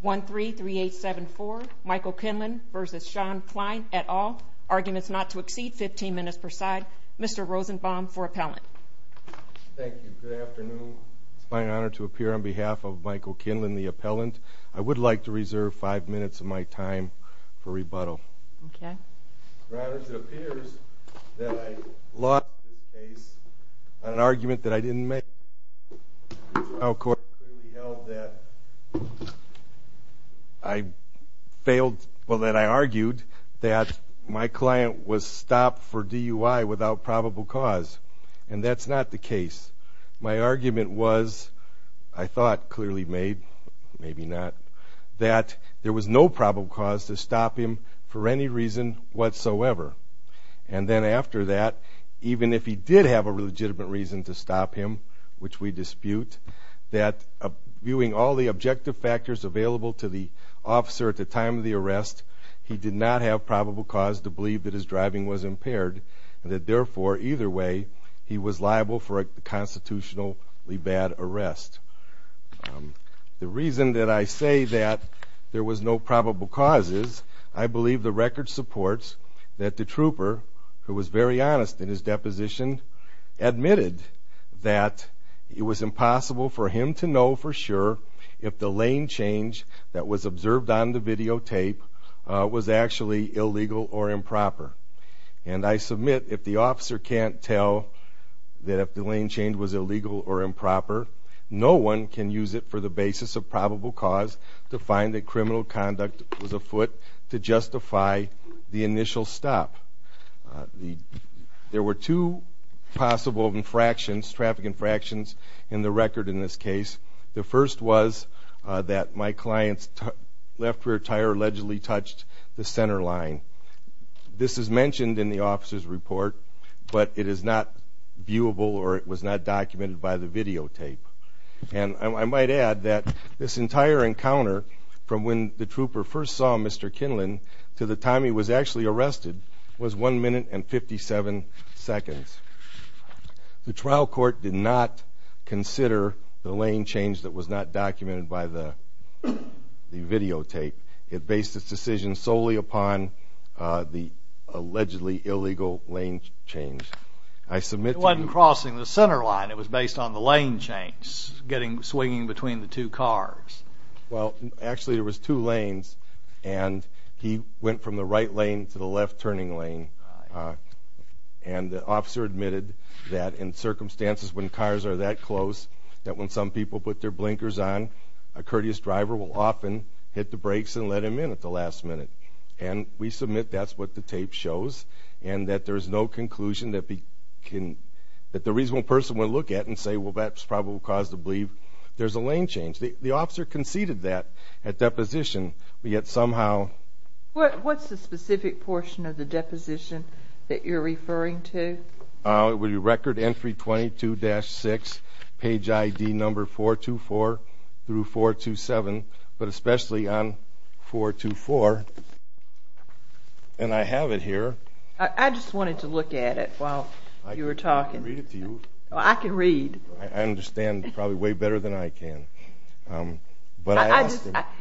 1, 3, 3, 8, 7, 4. Michael Kinlin v. Shawn Kline et al., Arguments Not to Exceed, 15 minutes per side. Mr. Rosenbaum for appellant. Thank you. Good afternoon. It is my honor to appear on behalf of Michael Kinlin, the appellant. I would like to reserve 5 minutes of my time for rebuttal. Okay. I argued that my client was stopped for DUI without probable cause, and that's not the case. My argument was, I thought clearly made, maybe not, that there was no probable cause to stop him for any reason whatsoever. And then after that, even if he did have a legitimate reason to stop him, which we dispute, that viewing all the objective factors available to the officer at the time of the arrest, he did not have probable cause to believe that his driving was impaired, and that therefore, either way, he was liable for a constitutionally bad arrest. The reason that I say that there was no probable cause is, I believe the record supports that the trooper, who was very honest in his deposition, admitted that it was impossible for him to know for sure if the lane change that was observed on the videotape was actually illegal or improper. And I submit, if the officer can't tell that if the lane change was illegal or improper, no one can use it for the basis of probable cause to find that criminal conduct was afoot to justify the initial stop. There were two possible infractions, traffic infractions, in the record in this case. The first was that my client's left rear tire allegedly touched the center line. This is mentioned in the officer's report, but it is not viewable or it was not documented by the videotape. And I might add that this entire encounter, from when the trooper first saw Mr. Kinlan to the time he was actually arrested, was 1 minute and 57 seconds. The trial court did not consider the lane change that was not documented by the videotape. It based its decision solely upon the allegedly illegal lane change. It wasn't crossing the center line. It was based on the lane change, swinging between the two cars. Well, actually there was two lanes, and he went from the right lane to the left turning lane. And the officer admitted that in circumstances when cars are that close, that when some people put their blinkers on, a courteous driver will often hit the brakes and let him in at the last minute. And we submit that's what the tape shows, and that there's no conclusion that the reasonable person would look at and say, well, that's probable cause to believe there's a lane change. The officer conceded that at deposition, but yet somehow... What's the specific portion of the deposition that you're referring to? It would be record entry 22-6, page ID number 424 through 427, but especially on 424. And I have it here. I just wanted to look at it while you were talking. I can read it to you. I can read. I understand probably way better than I can.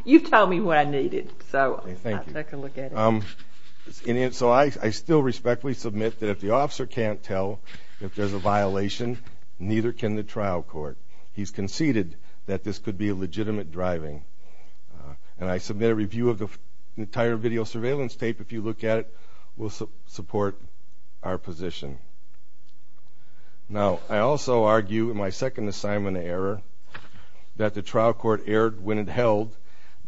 You've told me what I needed, so I'll take a look at it. So I still respectfully submit that if the officer can't tell if there's a violation, neither can the trial court. He's conceded that this could be a legitimate driving. And I submit a review of the entire video surveillance tape. If you look at it, we'll support our position. Now, I also argue in my second assignment error that the trial court erred when it held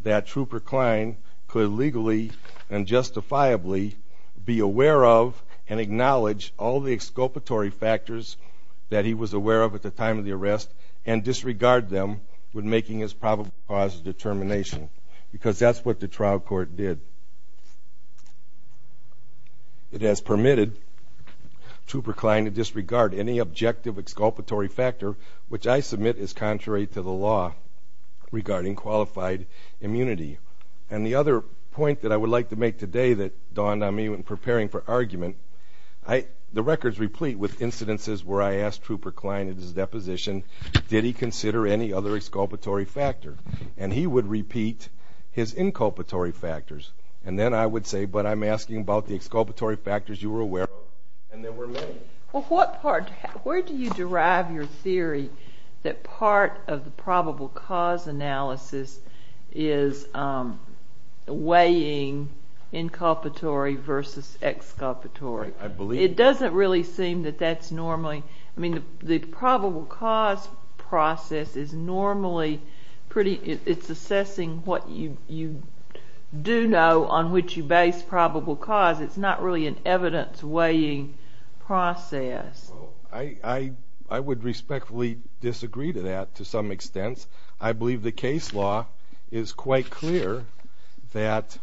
that Trooper Klein could legally and justifiably be aware of and acknowledge all the exculpatory factors that he was aware of at the time of the arrest and disregard them when making his probable cause determination, because that's what the trial court did. It has permitted Trooper Klein to disregard any objective exculpatory factor, which I submit is contrary to the law regarding qualified immunity. And the other point that I would like to make today that dawned on me when preparing for argument, the records replete with incidences where I asked Trooper Klein at his deposition, did he consider any other exculpatory factor? And he would repeat his inculpatory factors. And then I would say, but I'm asking about the exculpatory factors you were aware of. And there were many. Well, where do you derive your theory that part of the probable cause analysis is weighing inculpatory versus exculpatory? It doesn't really seem that that's normally. I mean, the probable cause process is normally pretty. It's assessing what you do know on which you base probable cause. It's not really an evidence-weighing process. Well, I would respectfully disagree to that to some extent. I believe the case law is quite clear that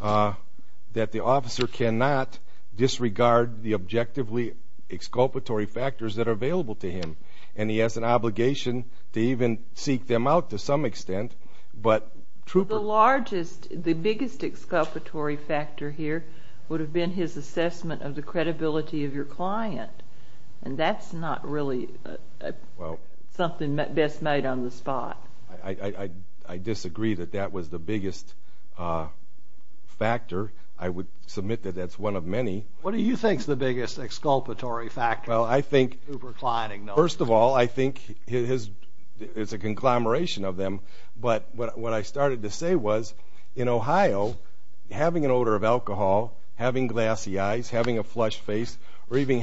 the officer cannot disregard the objectively exculpatory factors that are available to him, and he has an obligation to even seek them out to some extent. The largest, the biggest exculpatory factor here would have been his assessment of the credibility of your client, and that's not really something best made on the spot. I disagree that that was the biggest factor. I would submit that that's one of many. What do you think is the biggest exculpatory factor? Well, first of all, I think it's a conglomeration of them. But what I started to say was, in Ohio, having an odor of alcohol, having glassy eyes, having a flushed face, or even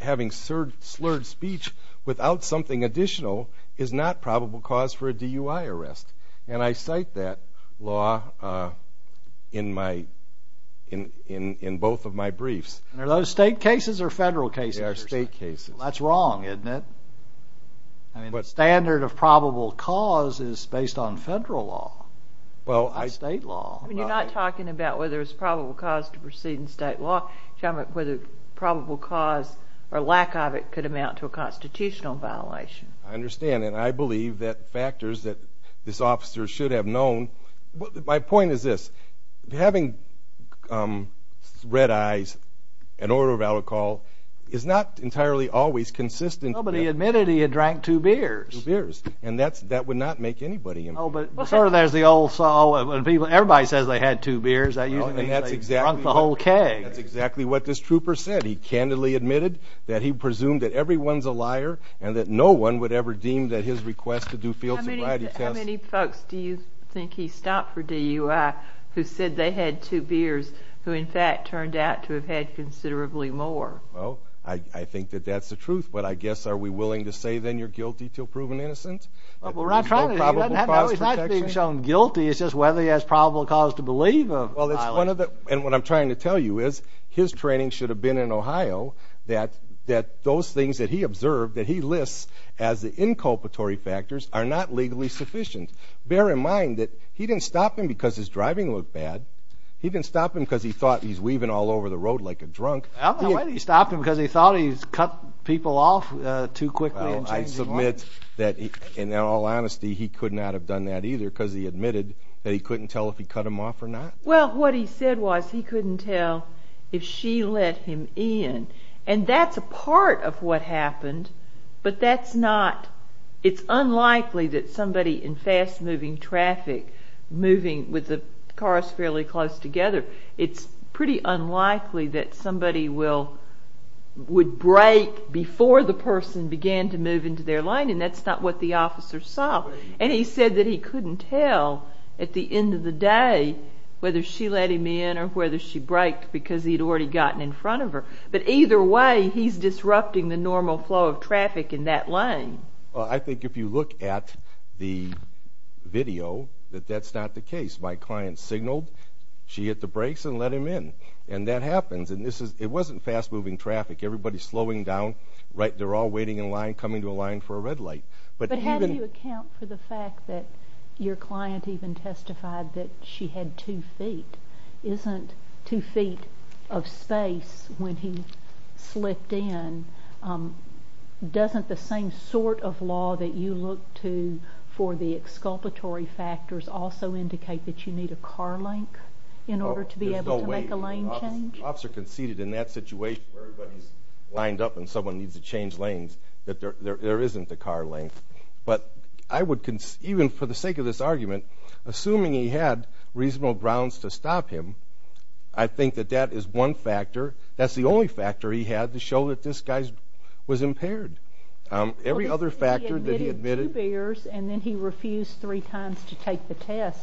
having slurred speech without something additional is not probable cause for a DUI arrest. And I cite that law in both of my briefs. And are those state cases or federal cases? They are state cases. That's wrong, isn't it? I mean, the standard of probable cause is based on federal law, not state law. You're not talking about whether it's probable cause to proceed in state law. You're talking about whether probable cause or lack of it could amount to a constitutional violation. I understand. And I believe that factors that this officer should have known. My point is this. Having red eyes, an odor of alcohol, is not entirely always consistent. Nobody admitted he had drank two beers. Two beers. And that would not make anybody. Oh, but sort of there's the old saw. Everybody says they had two beers. That usually means they drunk the whole keg. That's exactly what this trooper said. That he candidly admitted that he presumed that everyone's a liar and that no one would ever deem that his request to do field sobriety tests. How many folks do you think he stopped for DUI who said they had two beers who in fact turned out to have had considerably more? Well, I think that that's the truth. But I guess are we willing to say then you're guilty until proven innocent? Well, we're not trying to. He's not being shown guilty. It's just whether he has probable cause to believe. And what I'm trying to tell you is his training should have been in Ohio that those things that he observed, that he lists as the inculpatory factors, are not legally sufficient. Bear in mind that he didn't stop him because his driving looked bad. He didn't stop him because he thought he's weaving all over the road like a drunk. I don't know whether he stopped him because he thought he cut people off too quickly. I submit that in all honesty he could not have done that either because he admitted that he couldn't tell if he cut them off or not. Well, what he said was he couldn't tell if she let him in. And that's a part of what happened, but that's not. It's unlikely that somebody in fast-moving traffic, moving with the cars fairly close together, it's pretty unlikely that somebody would brake before the person began to move into their lane, and that's not what the officer saw. And he said that he couldn't tell at the end of the day whether she let him in or whether she braked because he'd already gotten in front of her. But either way, he's disrupting the normal flow of traffic in that lane. I think if you look at the video that that's not the case. My client signaled, she hit the brakes and let him in, and that happens. And it wasn't fast-moving traffic. Everybody's slowing down. They're all waiting in line, coming to a line for a red light. But how do you account for the fact that your client even testified that she had two feet? Isn't two feet of space, when he slipped in, doesn't the same sort of law that you look to for the exculpatory factors also indicate that you need a car link in order to be able to make a lane change? There's no way. The officer conceded in that situation where everybody's lined up and someone needs to change lanes that there isn't a car link. But I would, even for the sake of this argument, assuming he had reasonable grounds to stop him, I think that that is one factor. That's the only factor he had to show that this guy was impaired. Every other factor that he admitted. He admitted two bears, and then he refused three times to take the test.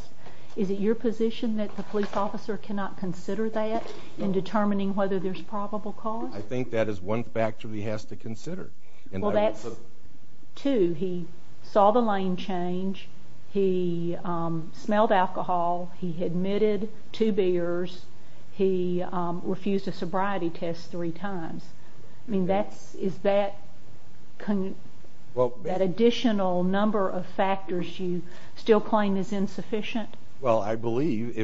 Is it your position that the police officer cannot consider that in determining whether there's probable cause? I think that is one factor he has to consider. Well, that's two. He saw the lane change. He smelled alcohol. He admitted two bears. He refused a sobriety test three times. I mean, is that an additional number of factors you still claim is insufficient? Well, I believe,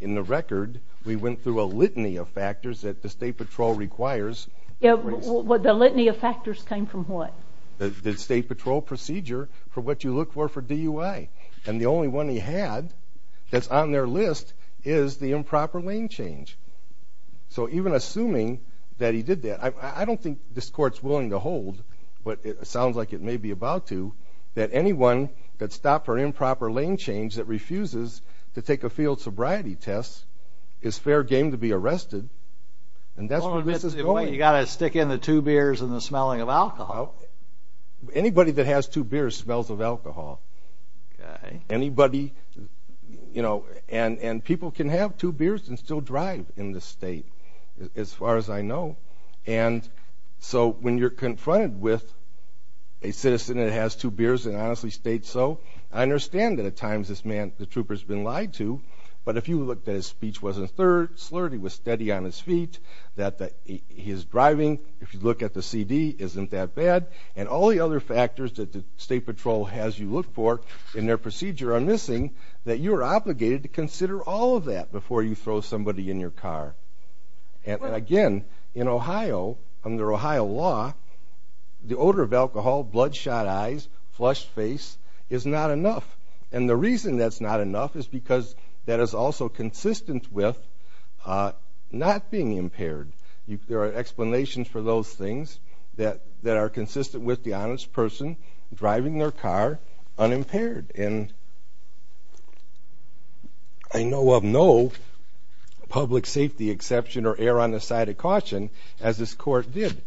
in the record, we went through a litany of factors that the State Patrol requires. The litany of factors came from what? The State Patrol procedure for what you look for for DUI. And the only one he had that's on their list is the improper lane change. So even assuming that he did that, I don't think this Court's willing to hold what it sounds like it may be about to, that anyone that stopped for improper lane change that refuses to take a field sobriety test is fair game to be arrested. And that's where this is going. You've got to stick in the two beers and the smelling of alcohol. Anybody that has two beers smells of alcohol. Anybody, you know, and people can have two beers and still drive in this state, as far as I know. And so when you're confronted with a citizen that has two beers and honestly states so, I understand that at times this man, the trooper, has been lied to. But if you look that his speech wasn't slurred, he was steady on his feet, that his driving, if you look at the CD, isn't that bad, and all the other factors that the State Patrol has you look for in their procedure are missing, that you're obligated to consider all of that before you throw somebody in your car. And, again, in Ohio, under Ohio law, the odor of alcohol, bloodshot eyes, flushed face is not enough. And the reason that's not enough is because that is also consistent with not being impaired. There are explanations for those things that are consistent with the honest person driving their car unimpaired. And I know of no public safety exception or err on the side of caution, as this court did.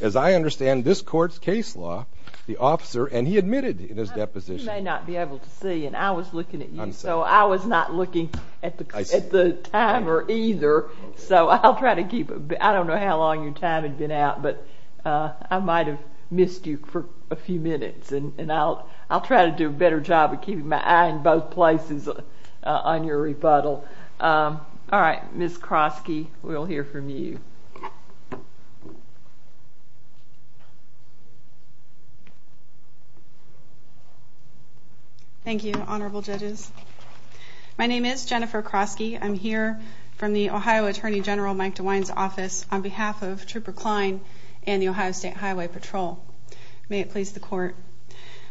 As I understand this court's case law, the officer, and he admitted in his deposition. You may not be able to see, and I was looking at you, so I was not looking at the timer either. So I'll try to keep it. I don't know how long your time had been out, but I might have missed you for a few minutes. And I'll try to do a better job of keeping my eye in both places on your rebuttal. All right. Ms. Kroski, we'll hear from you. Thank you, honorable judges. My name is Jennifer Kroski. I'm here from the Ohio Attorney General Mike DeWine's office on behalf of Trooper Kline and the Ohio State Highway Patrol. May it please the court.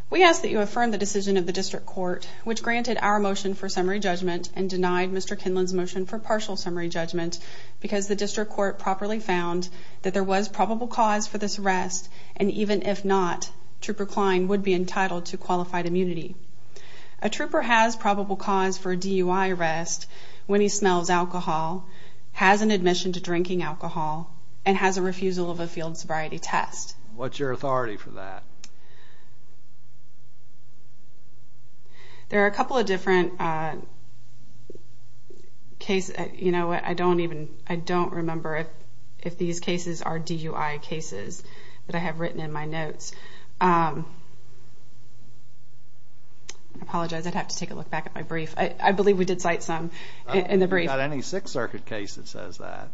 We ask that you affirm the decision of the district court, which granted our motion for summary judgment and denied Mr. Kinlan's motion for partial summary judgment, because the district court properly found that there was probable cause for this arrest, and even if not, Trooper Kline would be entitled to qualified immunity. A trooper has probable cause for a DUI arrest when he smells alcohol, has an admission to drinking alcohol, and has a refusal of a field sobriety test. What's your authority for that? There are a couple of different cases. You know what? I don't even remember if these cases are DUI cases that I have written in my notes. I apologize. I'd have to take a look back at my brief. I believe we did cite some in the brief. We haven't got any Sixth Circuit case that says that.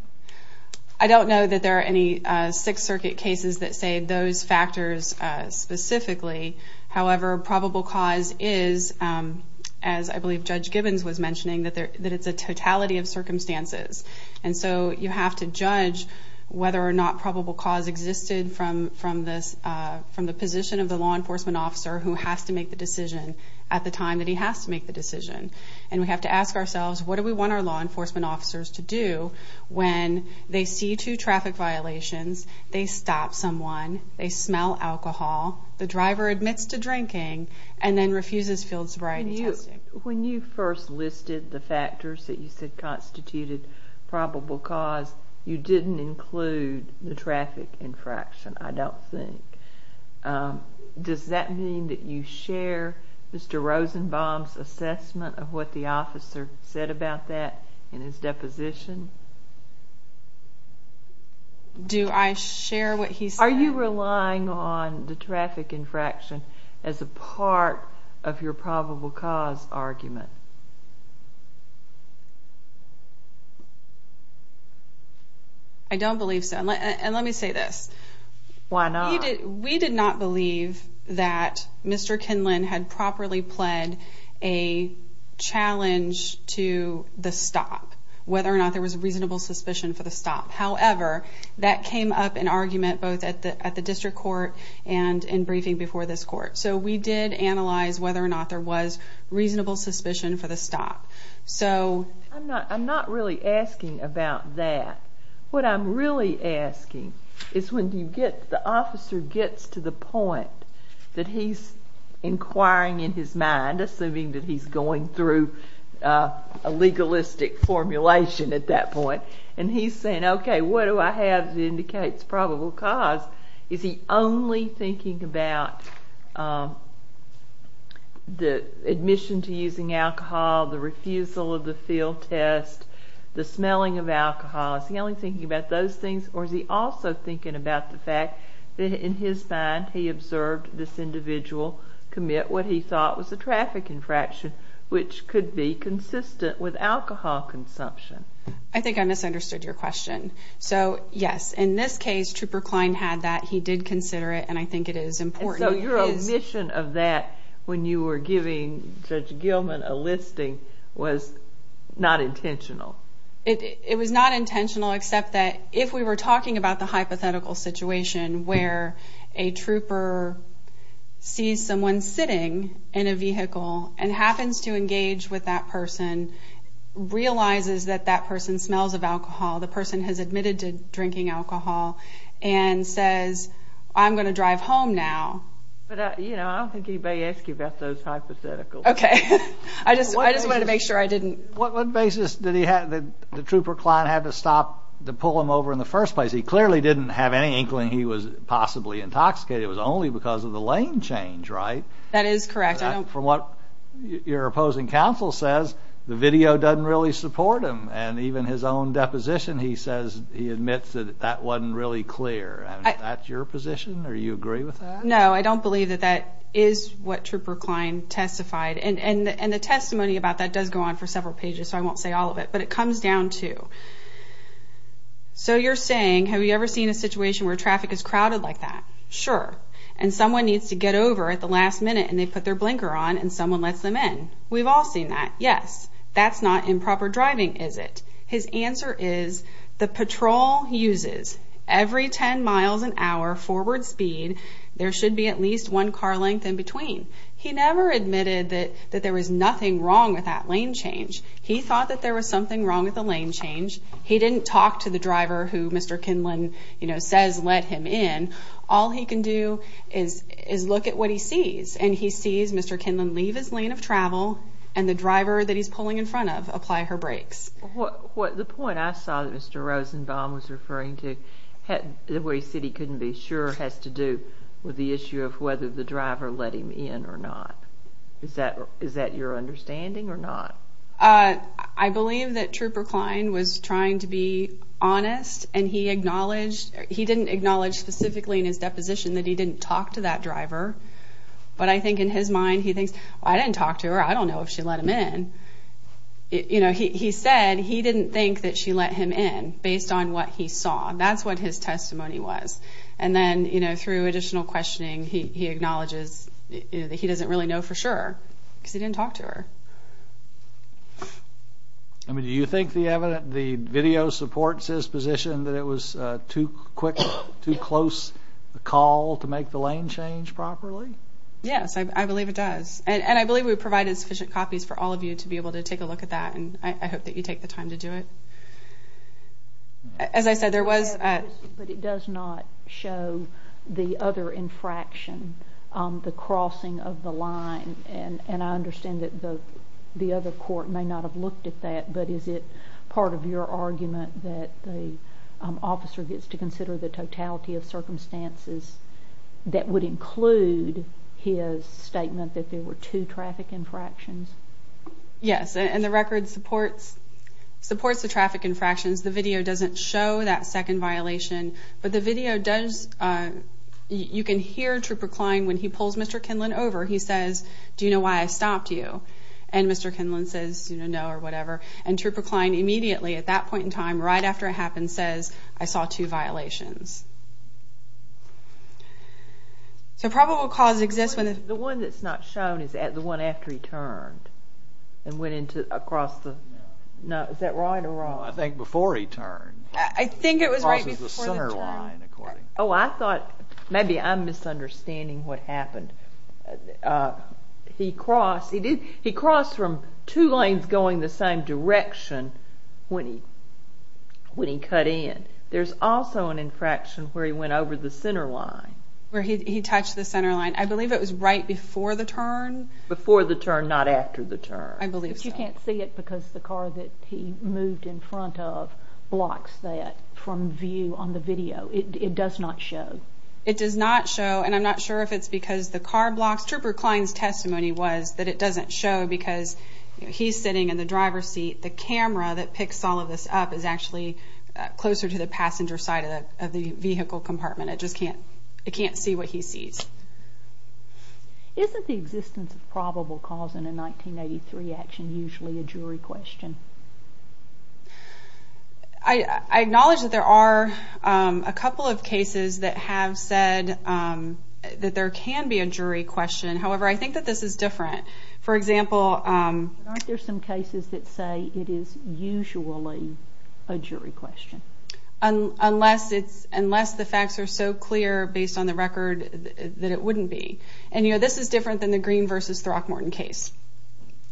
I don't know that there are any Sixth Circuit cases that say those factors specifically. However, probable cause is, as I believe Judge Gibbons was mentioning, that it's a totality of circumstances. And so you have to judge whether or not probable cause existed from the position of the law enforcement officer who has to make the decision at the time that he has to make the decision. And we have to ask ourselves, what do we want our law enforcement officers to do when they see two traffic violations, they stop someone, they smell alcohol, the driver admits to drinking, and then refuses field sobriety testing? When you first listed the factors that you said constituted probable cause, you didn't include the traffic infraction, I don't think. Does that mean that you share Mr. Rosenbaum's assessment of what the officer said about that in his deposition? Do I share what he said? Are you relying on the traffic infraction as a part of your probable cause argument? I don't believe so. And let me say this. Why not? We did not believe that Mr. Kinlan had properly pled a challenge to the stop, whether or not there was reasonable suspicion for the stop. However, that came up in argument both at the district court and in briefing before this court. So we did analyze whether or not there was reasonable suspicion for the stop. I'm not really asking about that. What I'm really asking is when the officer gets to the point that he's inquiring in his mind, assuming that he's going through a legalistic formulation at that point, and he's saying, okay, what do I have that indicates probable cause, is he only thinking about the admission to using alcohol, the refusal of the field test, the smelling of alcohol, is he only thinking about those things, or is he also thinking about the fact that in his mind he observed this individual commit what he thought was a traffic infraction, which could be consistent with alcohol consumption? I think I misunderstood your question. So, yes, in this case, Trooper Kline had that. He did consider it, and I think it is important. So your omission of that when you were giving Judge Gilman a listing was not intentional? It was not intentional, except that if we were talking about the hypothetical situation where a trooper sees someone sitting in a vehicle and happens to engage with that person, realizes that that person smells of alcohol, the person has admitted to drinking alcohol, and says, I'm going to drive home now. But, you know, I don't think anybody asked you about those hypotheticals. Okay. I just wanted to make sure I didn't. What basis did the trooper Kline have to stop to pull him over in the first place? He clearly didn't have any inkling he was possibly intoxicated. It was only because of the lane change, right? That is correct. From what your opposing counsel says, the video doesn't really support him, and even his own deposition he says he admits that that wasn't really clear. Is that your position, or do you agree with that? No, I don't believe that that is what Trooper Kline testified. And the testimony about that does go on for several pages, so I won't say all of it, but it comes down to. So you're saying, have you ever seen a situation where traffic is crowded like that? Sure. And someone needs to get over at the last minute, and they put their blinker on, and someone lets them in. We've all seen that. Yes. That's not improper driving, is it? His answer is, the patrol uses every 10 miles an hour forward speed, there should be at least one car length in between. He never admitted that there was nothing wrong with that lane change. He thought that there was something wrong with the lane change. He didn't talk to the driver who Mr. Kinlan says let him in. All he can do is look at what he sees, and he sees Mr. Kinlan leave his lane of travel, and the driver that he's pulling in front of apply her brakes. The point I saw that Mr. Rosenbaum was referring to, where he said he couldn't be sure, has to do with the issue of whether the driver let him in or not. Is that your understanding or not? I believe that Trooper Kline was trying to be honest, and he didn't acknowledge specifically in his deposition that he didn't talk to that driver. But I think in his mind he thinks, I didn't talk to her, I don't know if she let him in. He said he didn't think that she let him in based on what he saw. That's what his testimony was. And then through additional questioning, he acknowledges that he doesn't really know for sure because he didn't talk to her. Do you think the video supports his position that it was too quick, and that there was a call to make the lane change properly? Yes, I believe it does. And I believe we provided sufficient copies for all of you to be able to take a look at that, and I hope that you take the time to do it. As I said, there was a— But it does not show the other infraction, the crossing of the line. And I understand that the other court may not have looked at that, but is it part of your argument that the officer gets to consider the totality of circumstances that would include his statement that there were two traffic infractions? Yes, and the record supports the traffic infractions. The video doesn't show that second violation, but the video does. You can hear Trooper Kline, when he pulls Mr. Kinlan over, he says, Do you know why I stopped you? And Mr. Kinlan says, No, or whatever. And Trooper Kline immediately, at that point in time, right after it happened, says, I saw two violations. So probable cause exists when— The one that's not shown is the one after he turned and went across the— Is that right or wrong? I think before he turned. I think it was right before the turn. Oh, I thought—maybe I'm misunderstanding what happened. He crossed from two lanes going the same direction when he cut in. There's also an infraction where he went over the center line. Where he touched the center line. I believe it was right before the turn. Before the turn, not after the turn. I believe so. But you can't see it because the car that he moved in front of blocks that from view on the video. It does not show. It does not show, and I'm not sure if it's because the car blocks. Trooper Kline's testimony was that it doesn't show because he's sitting in the driver's seat. The camera that picks all of this up is actually closer to the passenger side of the vehicle compartment. It just can't—it can't see what he sees. Isn't the existence of probable cause in a 1983 action usually a jury question? I acknowledge that there are a couple of cases that have said that there can be a jury question. However, I think that this is different. For example— Aren't there some cases that say it is usually a jury question? Unless the facts are so clear based on the record that it wouldn't be. And, you know, this is different than the Green v. Throckmorton case.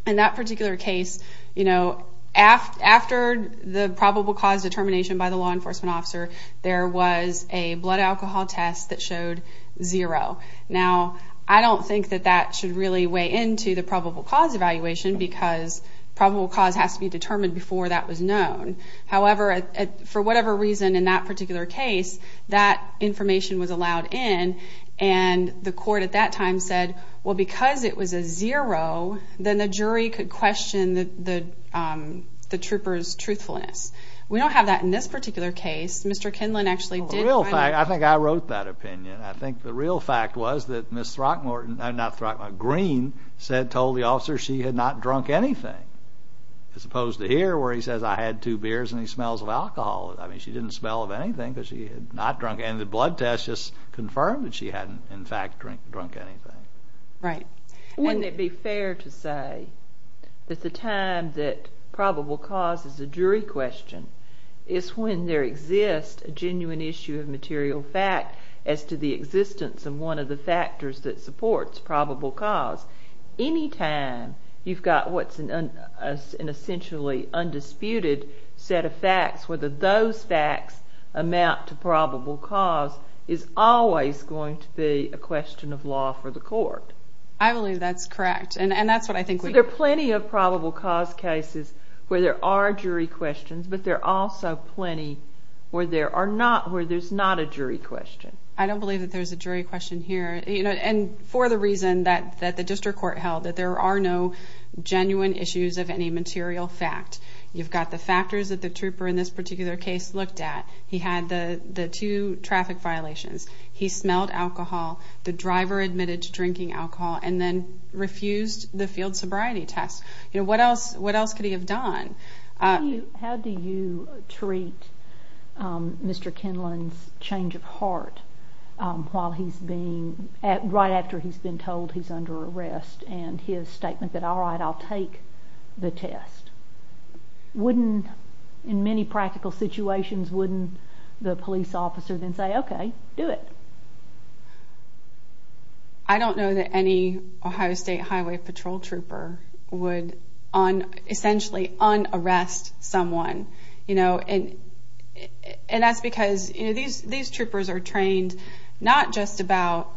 In that particular case, you know, after the probable cause determination by the law enforcement officer, there was a blood alcohol test that showed zero. Now, I don't think that that should really weigh into the probable cause evaluation because probable cause has to be determined before that was known. However, for whatever reason in that particular case, that information was allowed in, and the court at that time said, well, because it was a zero, then the jury could question the trooper's truthfulness. We don't have that in this particular case. Mr. Kinlan actually did— Well, the real fact—I think I wrote that opinion. I think the real fact was that Ms. Throckmorton—not Throckmorton—Green told the officer she had not drunk anything as opposed to here where he says, I had two beers, and he smells of alcohol. I mean, she didn't smell of anything because she had not drunk anything. The blood test just confirmed that she hadn't, in fact, drunk anything. Right. Wouldn't it be fair to say that the time that probable cause is a jury question is when there exists a genuine issue of material fact as to the existence of one of the factors that supports probable cause. Any time you've got what's an essentially undisputed set of facts, whether those facts amount to probable cause, is always going to be a question of law for the court. I believe that's correct, and that's what I think we— So there are plenty of probable cause cases where there are jury questions, but there are also plenty where there's not a jury question. I don't believe that there's a jury question here. And for the reason that the district court held, that there are no genuine issues of any material fact. You've got the factors that the trooper in this particular case looked at. He had the two traffic violations. He smelled alcohol. The driver admitted to drinking alcohol and then refused the field sobriety test. What else could he have done? How do you treat Mr. Kinlan's change of heart while he's being— right after he's been told he's under arrest and his statement that, all right, I'll take the test? Wouldn't—in many practical situations, wouldn't the police officer then say, okay, do it? I don't know that any Ohio State Highway Patrol trooper would, essentially, un-arrest someone. And that's because these troopers are trained not just about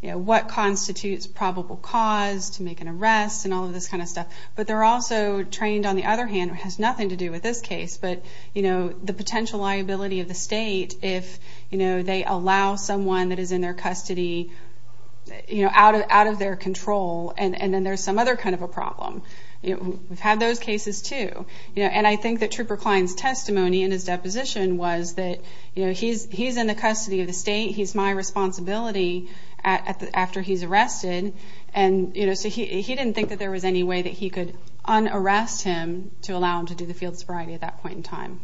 what constitutes probable cause to make an arrest and all of this kind of stuff, but they're also trained, on the other hand, it has nothing to do with this case, but the potential liability of the state if they allow someone that is in their custody out of their control, and then there's some other kind of a problem. We've had those cases, too. And I think that Trooper Klein's testimony in his deposition was that, he's in the custody of the state. He's my responsibility after he's arrested. And so he didn't think that there was any way that he could un-arrest him to allow him to do the field sobriety at that point in time.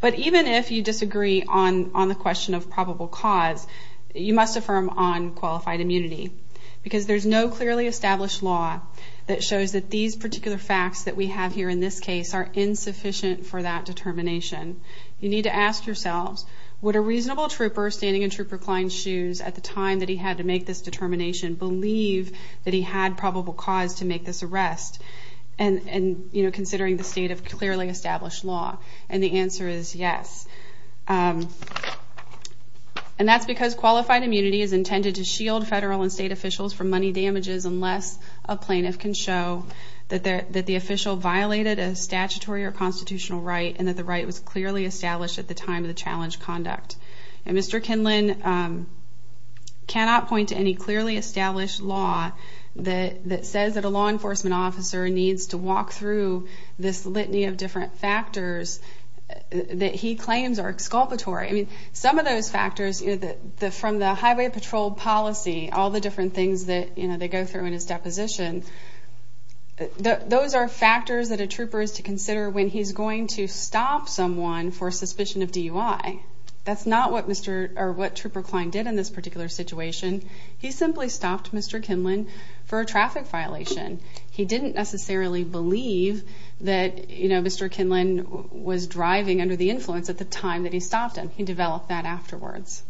But even if you disagree on the question of probable cause, you must affirm on qualified immunity because there's no clearly established law that shows that these particular facts that we have here in this case are insufficient for that determination. You need to ask yourselves, would a reasonable trooper standing in Trooper Klein's shoes at the time that he had to make this determination believe that he had probable cause to make this arrest, considering the state of clearly established law? And the answer is yes. And that's because qualified immunity is intended to shield federal and state officials from money damages unless a plaintiff can show that the official violated a statutory or constitutional right and that the right was clearly established at the time of the challenge conduct. And Mr. Kinlan cannot point to any clearly established law that says that a law enforcement officer needs to walk through this litany of different factors that he claims are exculpatory. Some of those factors from the highway patrol policy, all the different things that they go through in his deposition, those are factors that a trooper is to consider when he's going to stop someone for suspicion of DUI. That's not what Trooper Klein did in this particular situation. He simply stopped Mr. Kinlan for a traffic violation. He didn't necessarily believe that, you know, Mr. Kinlan was driving under the influence at the time that he stopped him. He developed that afterwards.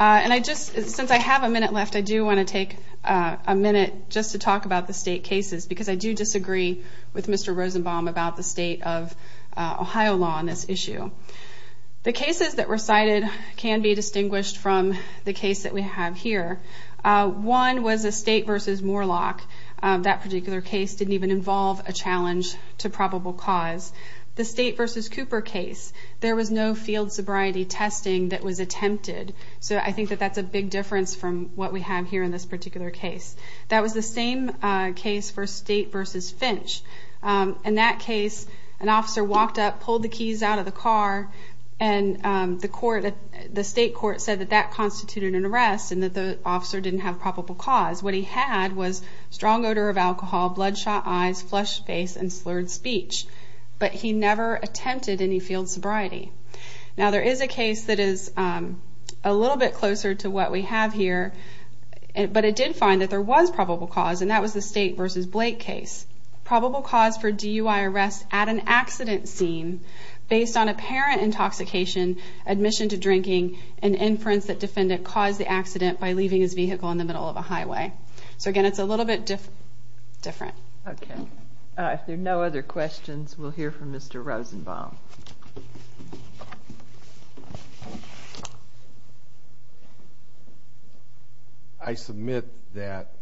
And I just, since I have a minute left, I do want to take a minute just to talk about the state cases because I do disagree with Mr. Rosenbaum about the state of Ohio law on this issue. The cases that were cited can be distinguished from the case that we have here. One was a State v. Moorlach. That particular case didn't even involve a challenge to probable cause. The State v. Cooper case, there was no field sobriety testing that was attempted. So I think that that's a big difference from what we have here in this particular case. That was the same case for State v. Finch. In that case, an officer walked up, pulled the keys out of the car, and the state court said that that constituted an arrest and that the officer didn't have probable cause. What he had was strong odor of alcohol, bloodshot eyes, flushed face, and slurred speech. But he never attempted any field sobriety. Now, there is a case that is a little bit closer to what we have here, but it did find that there was probable cause, and that was the State v. Blake case. Probable cause for DUI arrest at an accident scene based on apparent intoxication, admission to drinking, and inference that defendant caused the accident by leaving his vehicle in the middle of a highway. So again, it's a little bit different. Okay. If there are no other questions, we'll hear from Mr. Rosenbaum. I submit that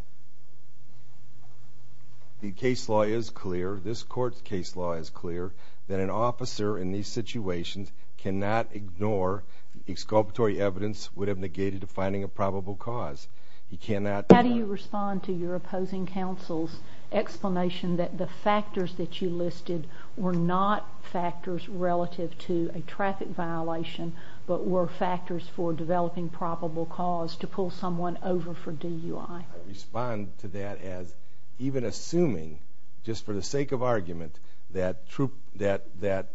the case law is clear, this court's case law is clear, that an officer in these situations cannot ignore exculpatory evidence would have negated finding a probable cause. He cannot... How do you respond to your opposing counsel's explanation that the factors that you listed were not factors relative to a traffic violation, but were factors for developing probable cause to pull someone over for DUI? I respond to that as even assuming, just for the sake of argument, that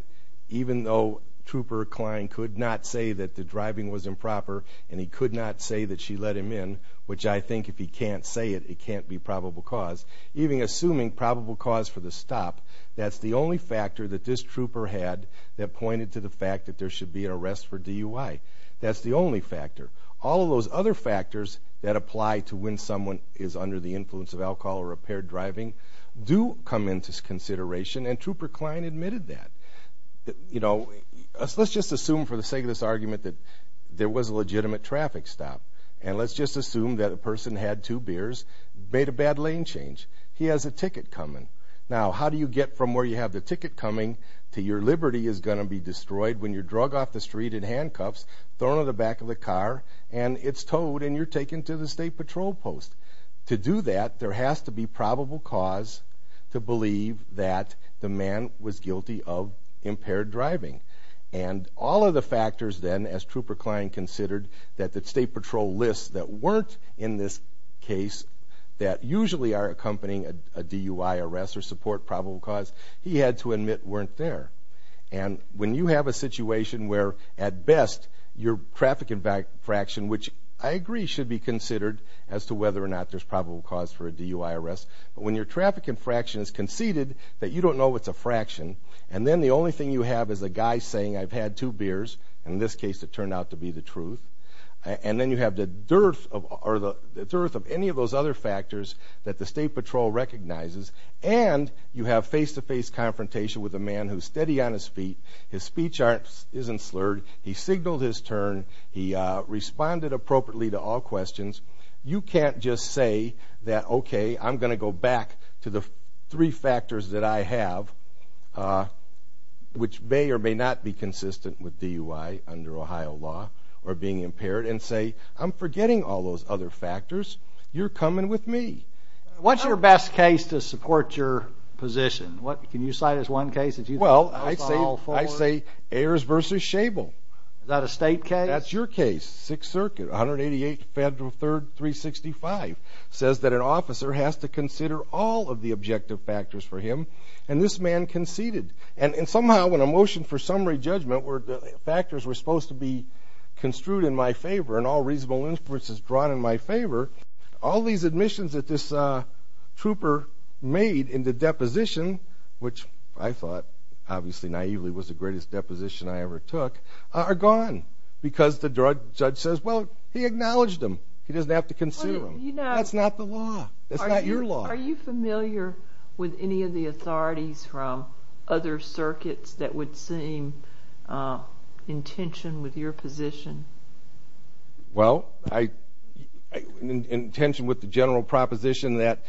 even though Trooper Klein could not say that the driving was improper and he could not say that she let him in, which I think if he can't say it, it can't be probable cause, even assuming probable cause for the stop, that's the only factor that this trooper had that pointed to the fact that there should be an arrest for DUI. That's the only factor. All of those other factors that apply to when someone is under the influence of alcohol or impaired driving do come into consideration, and Trooper Klein admitted that. You know, let's just assume for the sake of this argument that there was a legitimate traffic stop, and let's just assume that a person had two beers, made a bad lane change, he has a ticket coming. Now, how do you get from where you have the ticket coming to your liberty is going to be destroyed when you're drug off the street in handcuffs, thrown in the back of the car, and it's towed, and you're taken to the state patrol post? To do that, there has to be probable cause to believe that the man was guilty of impaired driving. And all of the factors then, as Trooper Klein considered, that the state patrol lists that weren't in this case that usually are accompanying a DUI arrest or support probable cause, he had to admit weren't there. And when you have a situation where, at best, your traffic infraction, which I agree should be considered as to whether or not there's probable cause for a DUI arrest, but when your traffic infraction is conceded that you don't know it's a fraction, and then the only thing you have is a guy saying, I've had two beers, and in this case it turned out to be the truth, and then you have the dearth of any of those other factors that the state patrol recognizes, and you have face-to-face confrontation with a man who's steady on his feet, his speech isn't slurred, he signaled his turn, he responded appropriately to all questions. You can't just say that, okay, I'm going to go back to the three factors that I have, which may or may not be consistent with DUI under Ohio law, or being impaired, and say, I'm forgetting all those other factors. You're coming with me. What's your best case to support your position? Can you cite as one case that you think goes to all four? Well, I say Ayers v. Schabel. Is that a state case? That's your case. Sixth Circuit, 188 Federal 3rd 365, says that an officer has to consider all of the objective factors for him, and this man conceded. And somehow when a motion for summary judgment where the factors were supposed to be construed in my favor and all reasonable inferences drawn in my favor, all these admissions that this trooper made in the deposition, which I thought, obviously naively, was the greatest deposition I ever took, are gone because the judge says, well, he acknowledged them. He doesn't have to consider them. That's not the law. That's not your law. Are you familiar with any of the authorities from other circuits that would seem in tension with your position? Well, in tension with the general proposition that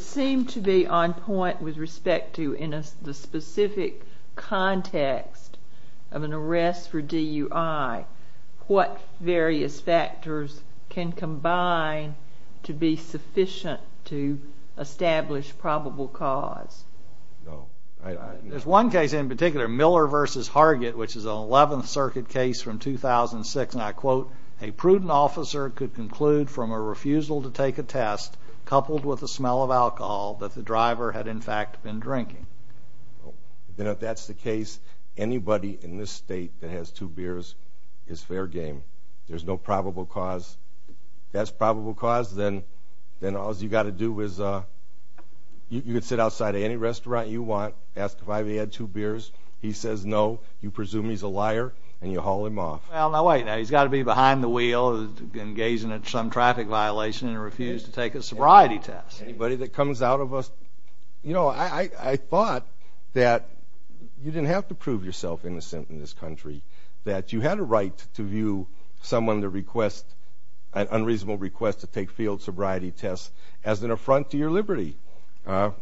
seemed to be on point with respect to the specific context of an arrest for DUI, what various factors can combine to be sufficient to establish probable cause? There's one case in particular, Miller v. Hargett, which is an 11th Circuit case from 2006, and I quote, a prudent officer could conclude from a refusal to take a test coupled with the smell of alcohol that the driver had, in fact, been drinking. Then if that's the case, anybody in this state that has two beers is fair game. There's no probable cause. If that's probable cause, then all you've got to do is you could sit outside any restaurant you want, ask if I've had two beers. He says no. You presume he's a liar, and you haul him off. Well, now wait. He's got to be behind the wheel and gazing at some traffic violation and refuse to take a sobriety test. Anybody that comes out of a, you know, I thought that you didn't have to prove yourself innocent in this country, that you had a right to view someone to request, an unreasonable request to take field sobriety tests as an affront to your liberty.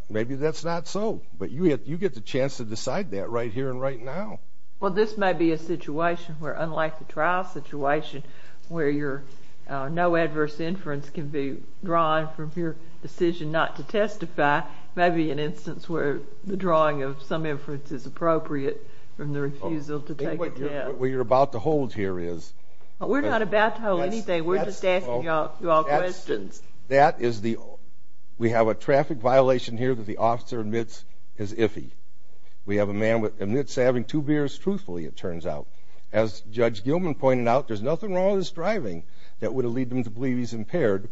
Maybe that's not so, but you get the chance to decide that right here and right now. Well, this may be a situation where, unlike the trial situation, where no adverse inference can be drawn from your decision not to testify, it may be an instance where the drawing of some inference is appropriate from the refusal to take a test. What you're about to hold here is... We're not about to hold anything. We're just asking you all questions. That is the... We have a traffic violation here that the officer admits is iffy. We have a man that admits to having two beers truthfully, it turns out. As Judge Gilman pointed out, there's nothing wrong with his driving that would lead him to believe he's impaired.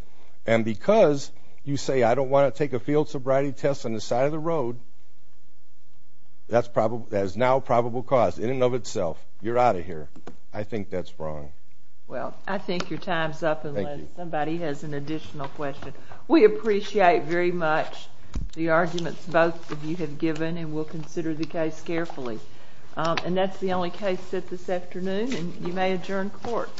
And because you say, I don't want to take a field sobriety test on the side of the road, that is now probable cause in and of itself. You're out of here. I think that's wrong. Well, I think your time's up unless somebody has an additional question. We appreciate very much the arguments both of you have given, and we'll consider the case carefully. And that's the only case set this afternoon, and you may adjourn court.